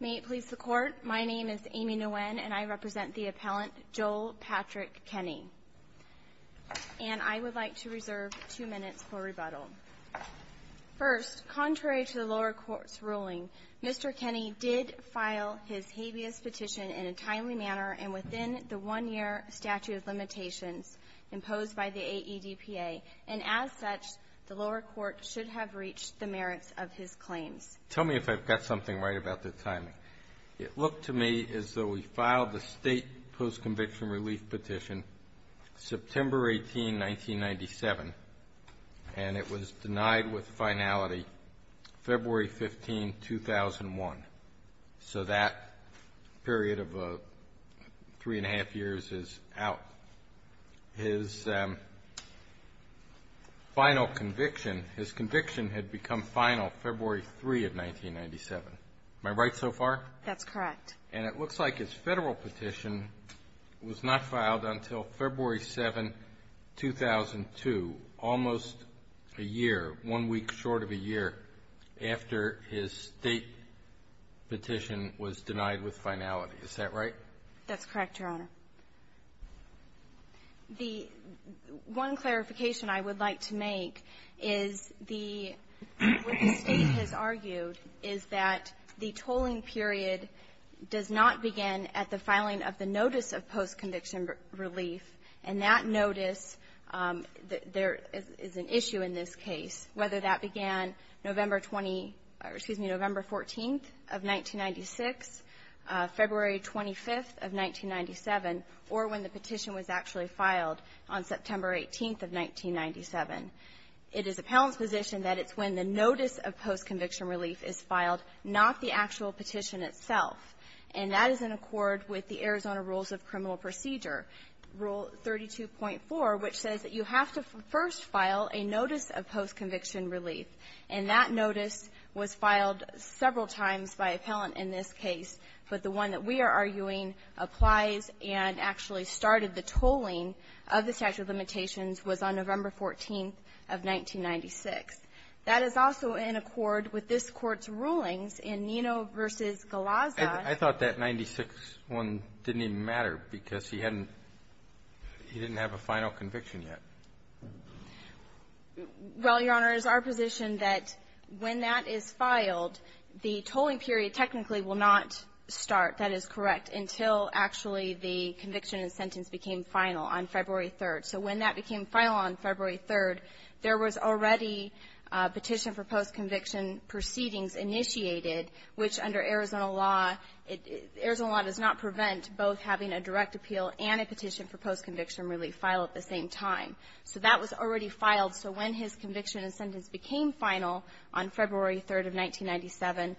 May it please the Court, my name is Amy Nguyen, and I represent the appellant, Joel Patrick Kenney. And I would like to reserve two minutes for rebuttal. First, contrary to the lower court's ruling, Mr. Kenney did file his habeas petition in a timely manner and within the one-year statute of limitations imposed by the AEDPA. And as such, the lower court should have reached the merits of his claims. Tell me if I've got something right about the timing. It looked to me as though he filed the state post-conviction relief petition September 18, 1997, and it was denied with finality February 15, 2001. So that period of three and a half years is out. His final conviction, his conviction had become final February 3 of 1997. Am I right so far? That's correct. And it looks like his Federal petition was not filed until February 7, 2002, almost a year, one week short of a year, after his State petition was denied with finality. Is that right? That's correct, Your Honor. The one clarification I would like to make is the state has argued is that the tolling period does not begin at the filing of the notice of post-conviction relief. And that notice, there is an issue in this case, whether that began November 20 or, excuse me, November 14th of 1996, February 25th of 1997, or when the petition was actually filed on September 18th of 1997. It is appellant's position that it's when the notice of post-conviction relief is filed, not the actual petition itself. And that is in accord with the Arizona Rules of Criminal Procedure, Rule 32.4, which says that you have to first file a notice of post-conviction relief. And that notice was filed several times by appellant in this case. But the one that we are arguing applies and actually started the tolling of the statute of limitations was on November 14th of 1996. That is also in accord with this Court's rulings in Nino v. Galazza. I thought that 961 didn't even matter because he hadn't he didn't have a final conviction yet. Well, Your Honor, it is our position that when that is filed, the tolling period technically will not start, that is correct, until actually the conviction and sentence became final on February 3rd. So when that became final on February 3rd, there was already a petition for post-conviction proceedings initiated, which under Arizona law, Arizona law does not prevent both having a direct appeal and a petition for post-conviction relief filed at the same time. So that was already filed. So when his conviction and sentence became final on February 3rd of 1997,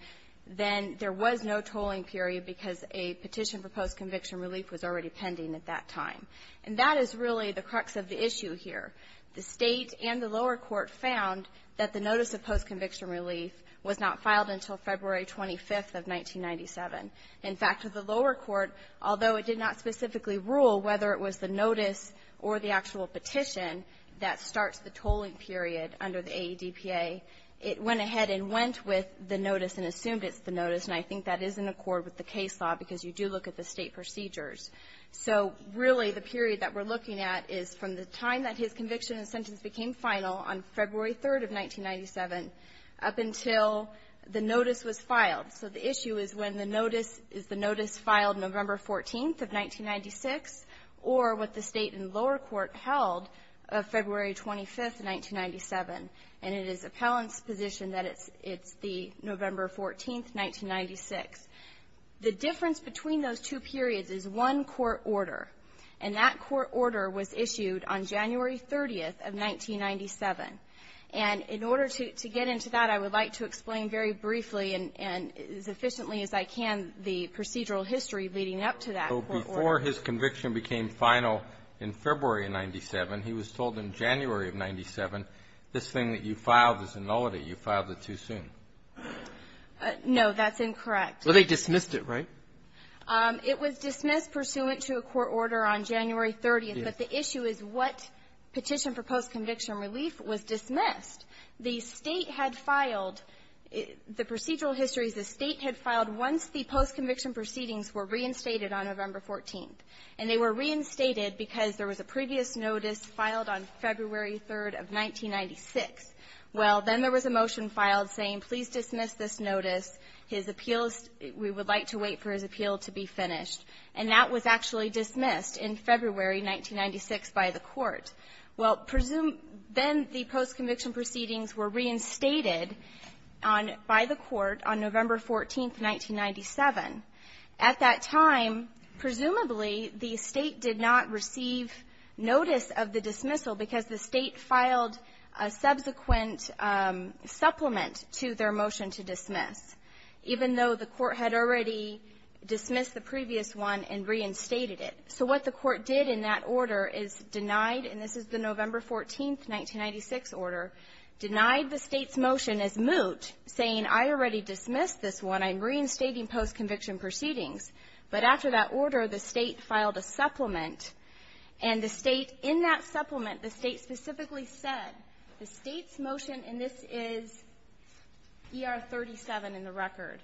then there was no tolling period because a petition for post-conviction relief was already pending at that time. And that is really the crux of the issue here. The State and the lower court found that the notice of post-conviction relief was not filed until February 25th of 1997. In fact, the lower court, although it did not specifically rule whether it was the notice or the actual petition that starts the tolling period under the AEDPA, it went ahead and went with the notice and assumed it's the notice, and I think that is in accord with the case law because you do look at the State procedures. So really, the period that we're looking at is from the time that his conviction and sentence became final on February 3rd of 1997 up until the notice was filed. So the issue is when the notice, is the notice filed November 14th of 1996 or what the State and lower court held of February 25th of 1997. And it is appellant's position that it's the November 14th, 1996. The difference between those two periods is one court order, and that court order was issued on January 30th of 1997. And in order to get into that, I would like to explain very briefly and as efficiently as I can the procedural history leading up to that court order. Breyer. So before his conviction became final in February of 97, he was told in January of 97, this thing that you filed is a nullity. You filed it too soon. No, that's incorrect. Well, they dismissed it, right? It was dismissed pursuant to a court order on January 30th, but the issue is what petition for post-conviction relief was dismissed. The State had filed the procedural histories the State had filed once the post-conviction proceedings were reinstated on November 14th. And they were reinstated because there was a previous notice filed on February 3rd of 1996. Well, then there was a motion filed saying please dismiss this notice. His appeals we would like to wait for his appeal to be finished. And that was actually dismissed in February 1996 by the court. Well, then the post-conviction proceedings were reinstated on by the court on November 14th, 1997. At that time, presumably, the State did not receive notice of the dismissal because the State filed a subsequent supplement to their motion to dismiss. Even though the court had already dismissed the previous one and reinstated it. So what the court did in that order is denied, and this is the November 14th, 1996 order, denied the State's motion as moot, saying I already dismissed this one. I'm reinstating post-conviction proceedings. But after that order, the State filed a supplement. And the State in that supplement, the State specifically said the State's motion and this is ER 37 in the record,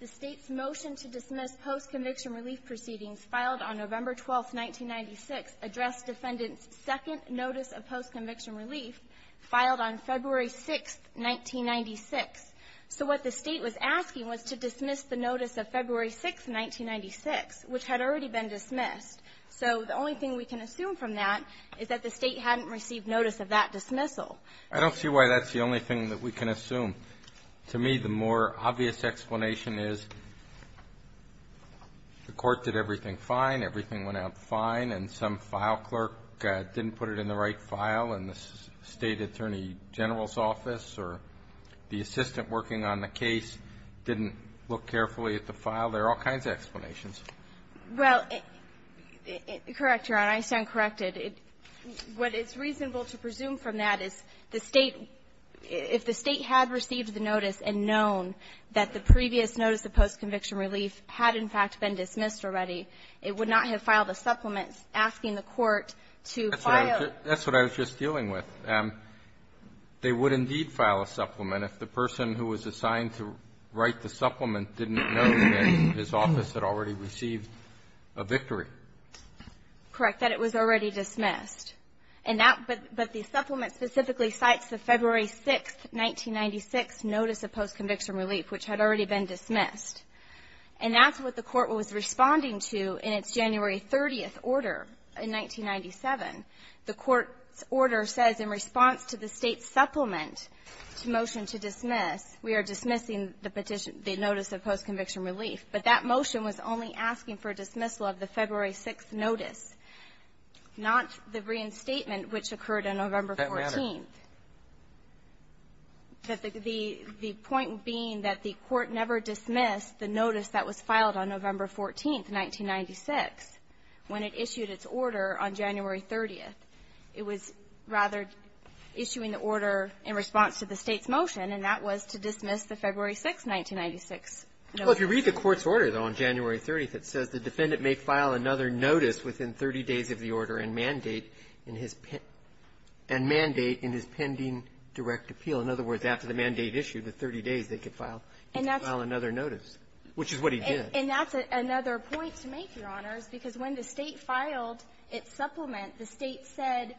the State's motion to dismiss post-conviction relief proceedings filed on November 12th, 1996 addressed defendant's second notice of post-conviction relief filed on February 6th, 1996. So what the State was asking was to dismiss the notice of February 6th, 1996, which had already been dismissed. So the only thing we can assume from that is that the State hadn't received notice of that dismissal. I don't see why that's the only thing that we can assume. To me, the more obvious explanation is the court did everything fine, everything went out fine, and some file clerk didn't put it in the right file in the State Attorney General's office, or the assistant working on the case didn't look carefully at the file. There are all kinds of explanations. Well, correct, Your Honor. I stand corrected. What is reasonable to presume from that is the State, if the State had received the notice and known that the previous notice of post-conviction relief had, in fact, been dismissed already, it would not have filed a supplement asking the court to file a -- That's what I was just dealing with. They would indeed file a supplement if the person who was assigned to write the supplement didn't know that his office had already received a victory. Correct. That it was already dismissed. And that -- but the supplement specifically cites the February 6th, 1996 notice of post-conviction relief, which had already been dismissed. And that's what the court was responding to in its January 30th order in 1997. The court's order says in response to the State's supplement to motion to dismiss, we are dismissing the petition, the notice of post-conviction relief. But that motion was only asking for dismissal of the February 6th notice, not the reinstatement, which occurred on November 14th. That matter. The point being that the court never dismissed the notice that was filed on November 14th, 1996, when it issued its order on January 30th. It was rather issuing the order in response to the State's motion, and that was to dismiss the February 6th, 1996 notice. Well, if you read the court's order, though, on January 30th, it says the defendant may file another notice within 30 days of the order and mandate in his pending direct appeal. In other words, after the mandate issue, the 30 days, they could file another notice, which is what he did. And that's another point to make, Your Honors, because when the State filed its supplement, the State said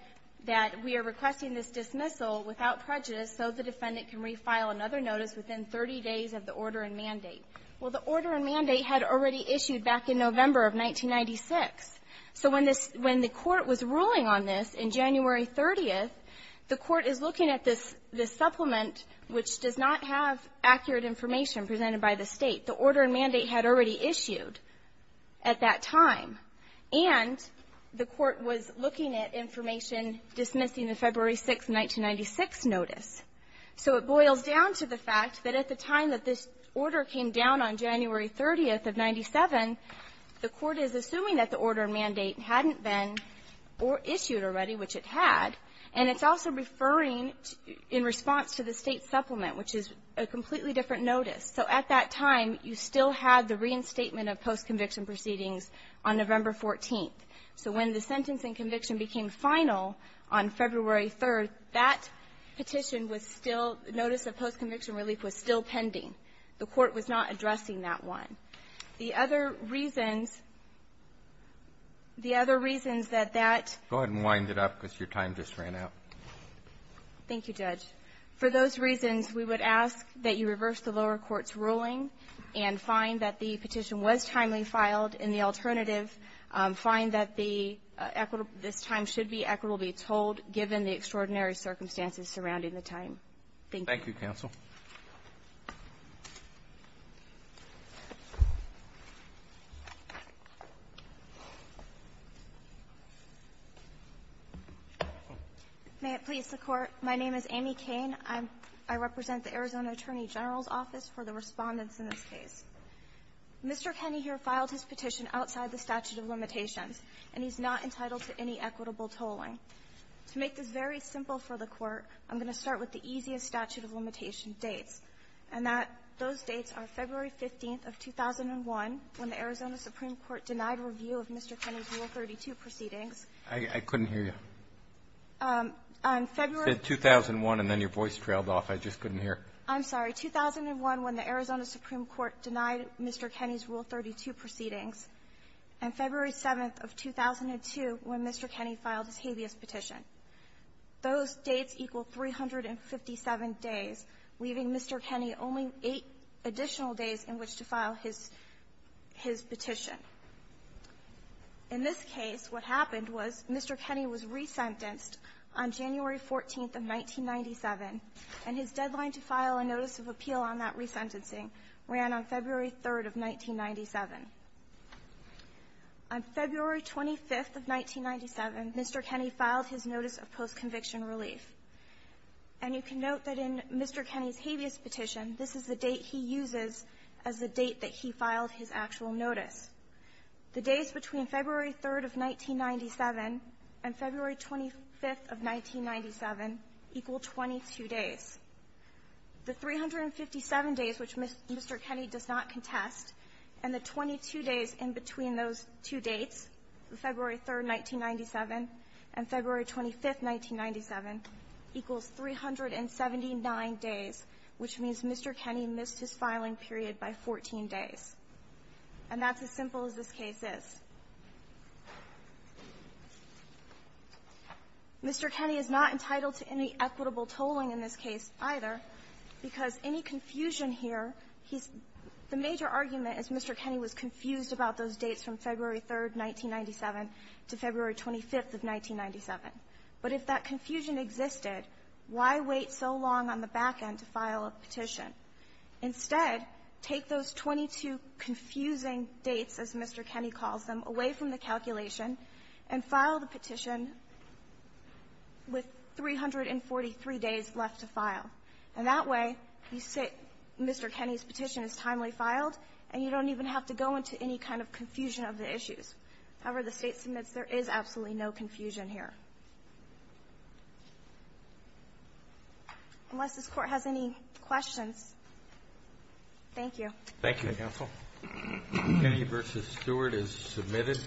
that we are requesting this dismissal without prejudice so the defendant can refile another notice within 30 days of the order and mandate. Well, the order and mandate had already issued back in November of 1996. So when the court was ruling on this on January 30th, the court is looking at this supplement, which does not have accurate information presented by the State. The order and mandate had already issued at that time. And the court was looking at information dismissing the February 6th, 1996 notice. So it boils down to the fact that at the time that this order came down on January 30th of 1997, the court is assuming that the order and mandate hadn't been issued already, which it had, and it's also referring in response to the State supplement, which is a completely different notice. So at that time, you still had the reinstatement of postconviction proceedings on November 14th. So when the sentence and conviction became final on February 3rd, that petition was still the notice of postconviction relief was still pending. The court was not addressing that one. The other reasons, the other reasons that that ---- Go ahead and wind it up because your time just ran out. Thank you, Judge. For those reasons, we would ask that you reverse the lower court's ruling and find that the petition was timely filed and the alternative, find that the equitable ---- this time should be equitably told, given the extraordinary circumstances surrounding the time. Thank you. Thank you, counsel. May it please the Court. My name is Amy Cain. I represent the Arizona Attorney General's Office for the Respondents in this case. Mr. Kenney here filed his petition outside the statute of limitations, and he's not entitled to any equitable tolling. To make this very simple for the Court, I'm going to start with the easiest statute of limitation dates, and that those dates are February 15th of 2001 when the Arizona Supreme Court denied review of Mr. Kenney's Rule 32 proceedings. I couldn't hear you. On February ---- You said 2001, and then your voice trailed off. I just couldn't hear. I'm sorry. 2001 when the Arizona Supreme Court denied Mr. Kenney's Rule 32 proceedings, and February 7th of 2002 when Mr. Kenney filed his habeas petition. Those dates equal 357 days, leaving Mr. Kenney only eight additional days in which to file his ---- his petition. In this case, what happened was Mr. Kenney was resentenced on January 14th of 1997, and his deadline to file a notice of appeal on that resentencing ran on February 3rd of 1997. On February 25th of 1997, Mr. Kenney filed his notice of post-conviction relief. And you can note that in Mr. Kenney's habeas petition, this is the date he uses as the date that he filed his actual notice. The days between February 3rd of 1997 and February 25th of 1997 equal 22 days. The 357 days, which Mr. Kenney does not contest, and the 22 days in between those two dates, February 3rd, 1997, and February 25th, 1997, equals 379 days, which means that Mr. Kenney missed his filing period by 14 days. And that's as simple as this case is. Mr. Kenney is not entitled to any equitable tolling in this case either because any confusion here, he's the major argument is Mr. Kenney was confused about those dates from February 3rd, 1997 to February 25th of 1997. But if that confusion existed, why wait so long on the back end to file a petition? Instead, take those 22 confusing dates, as Mr. Kenney calls them, away from the calculation and file the petition with 343 days left to file. And that way, you say Mr. Kenney's petition is timely filed, and you don't even have to go into any kind of confusion of the issues. However, the State submits there is absolutely no confusion here. Unless this Court has any questions. Thank you. Roberts. Thank you, counsel. Kennedy v. Stewart is submitted.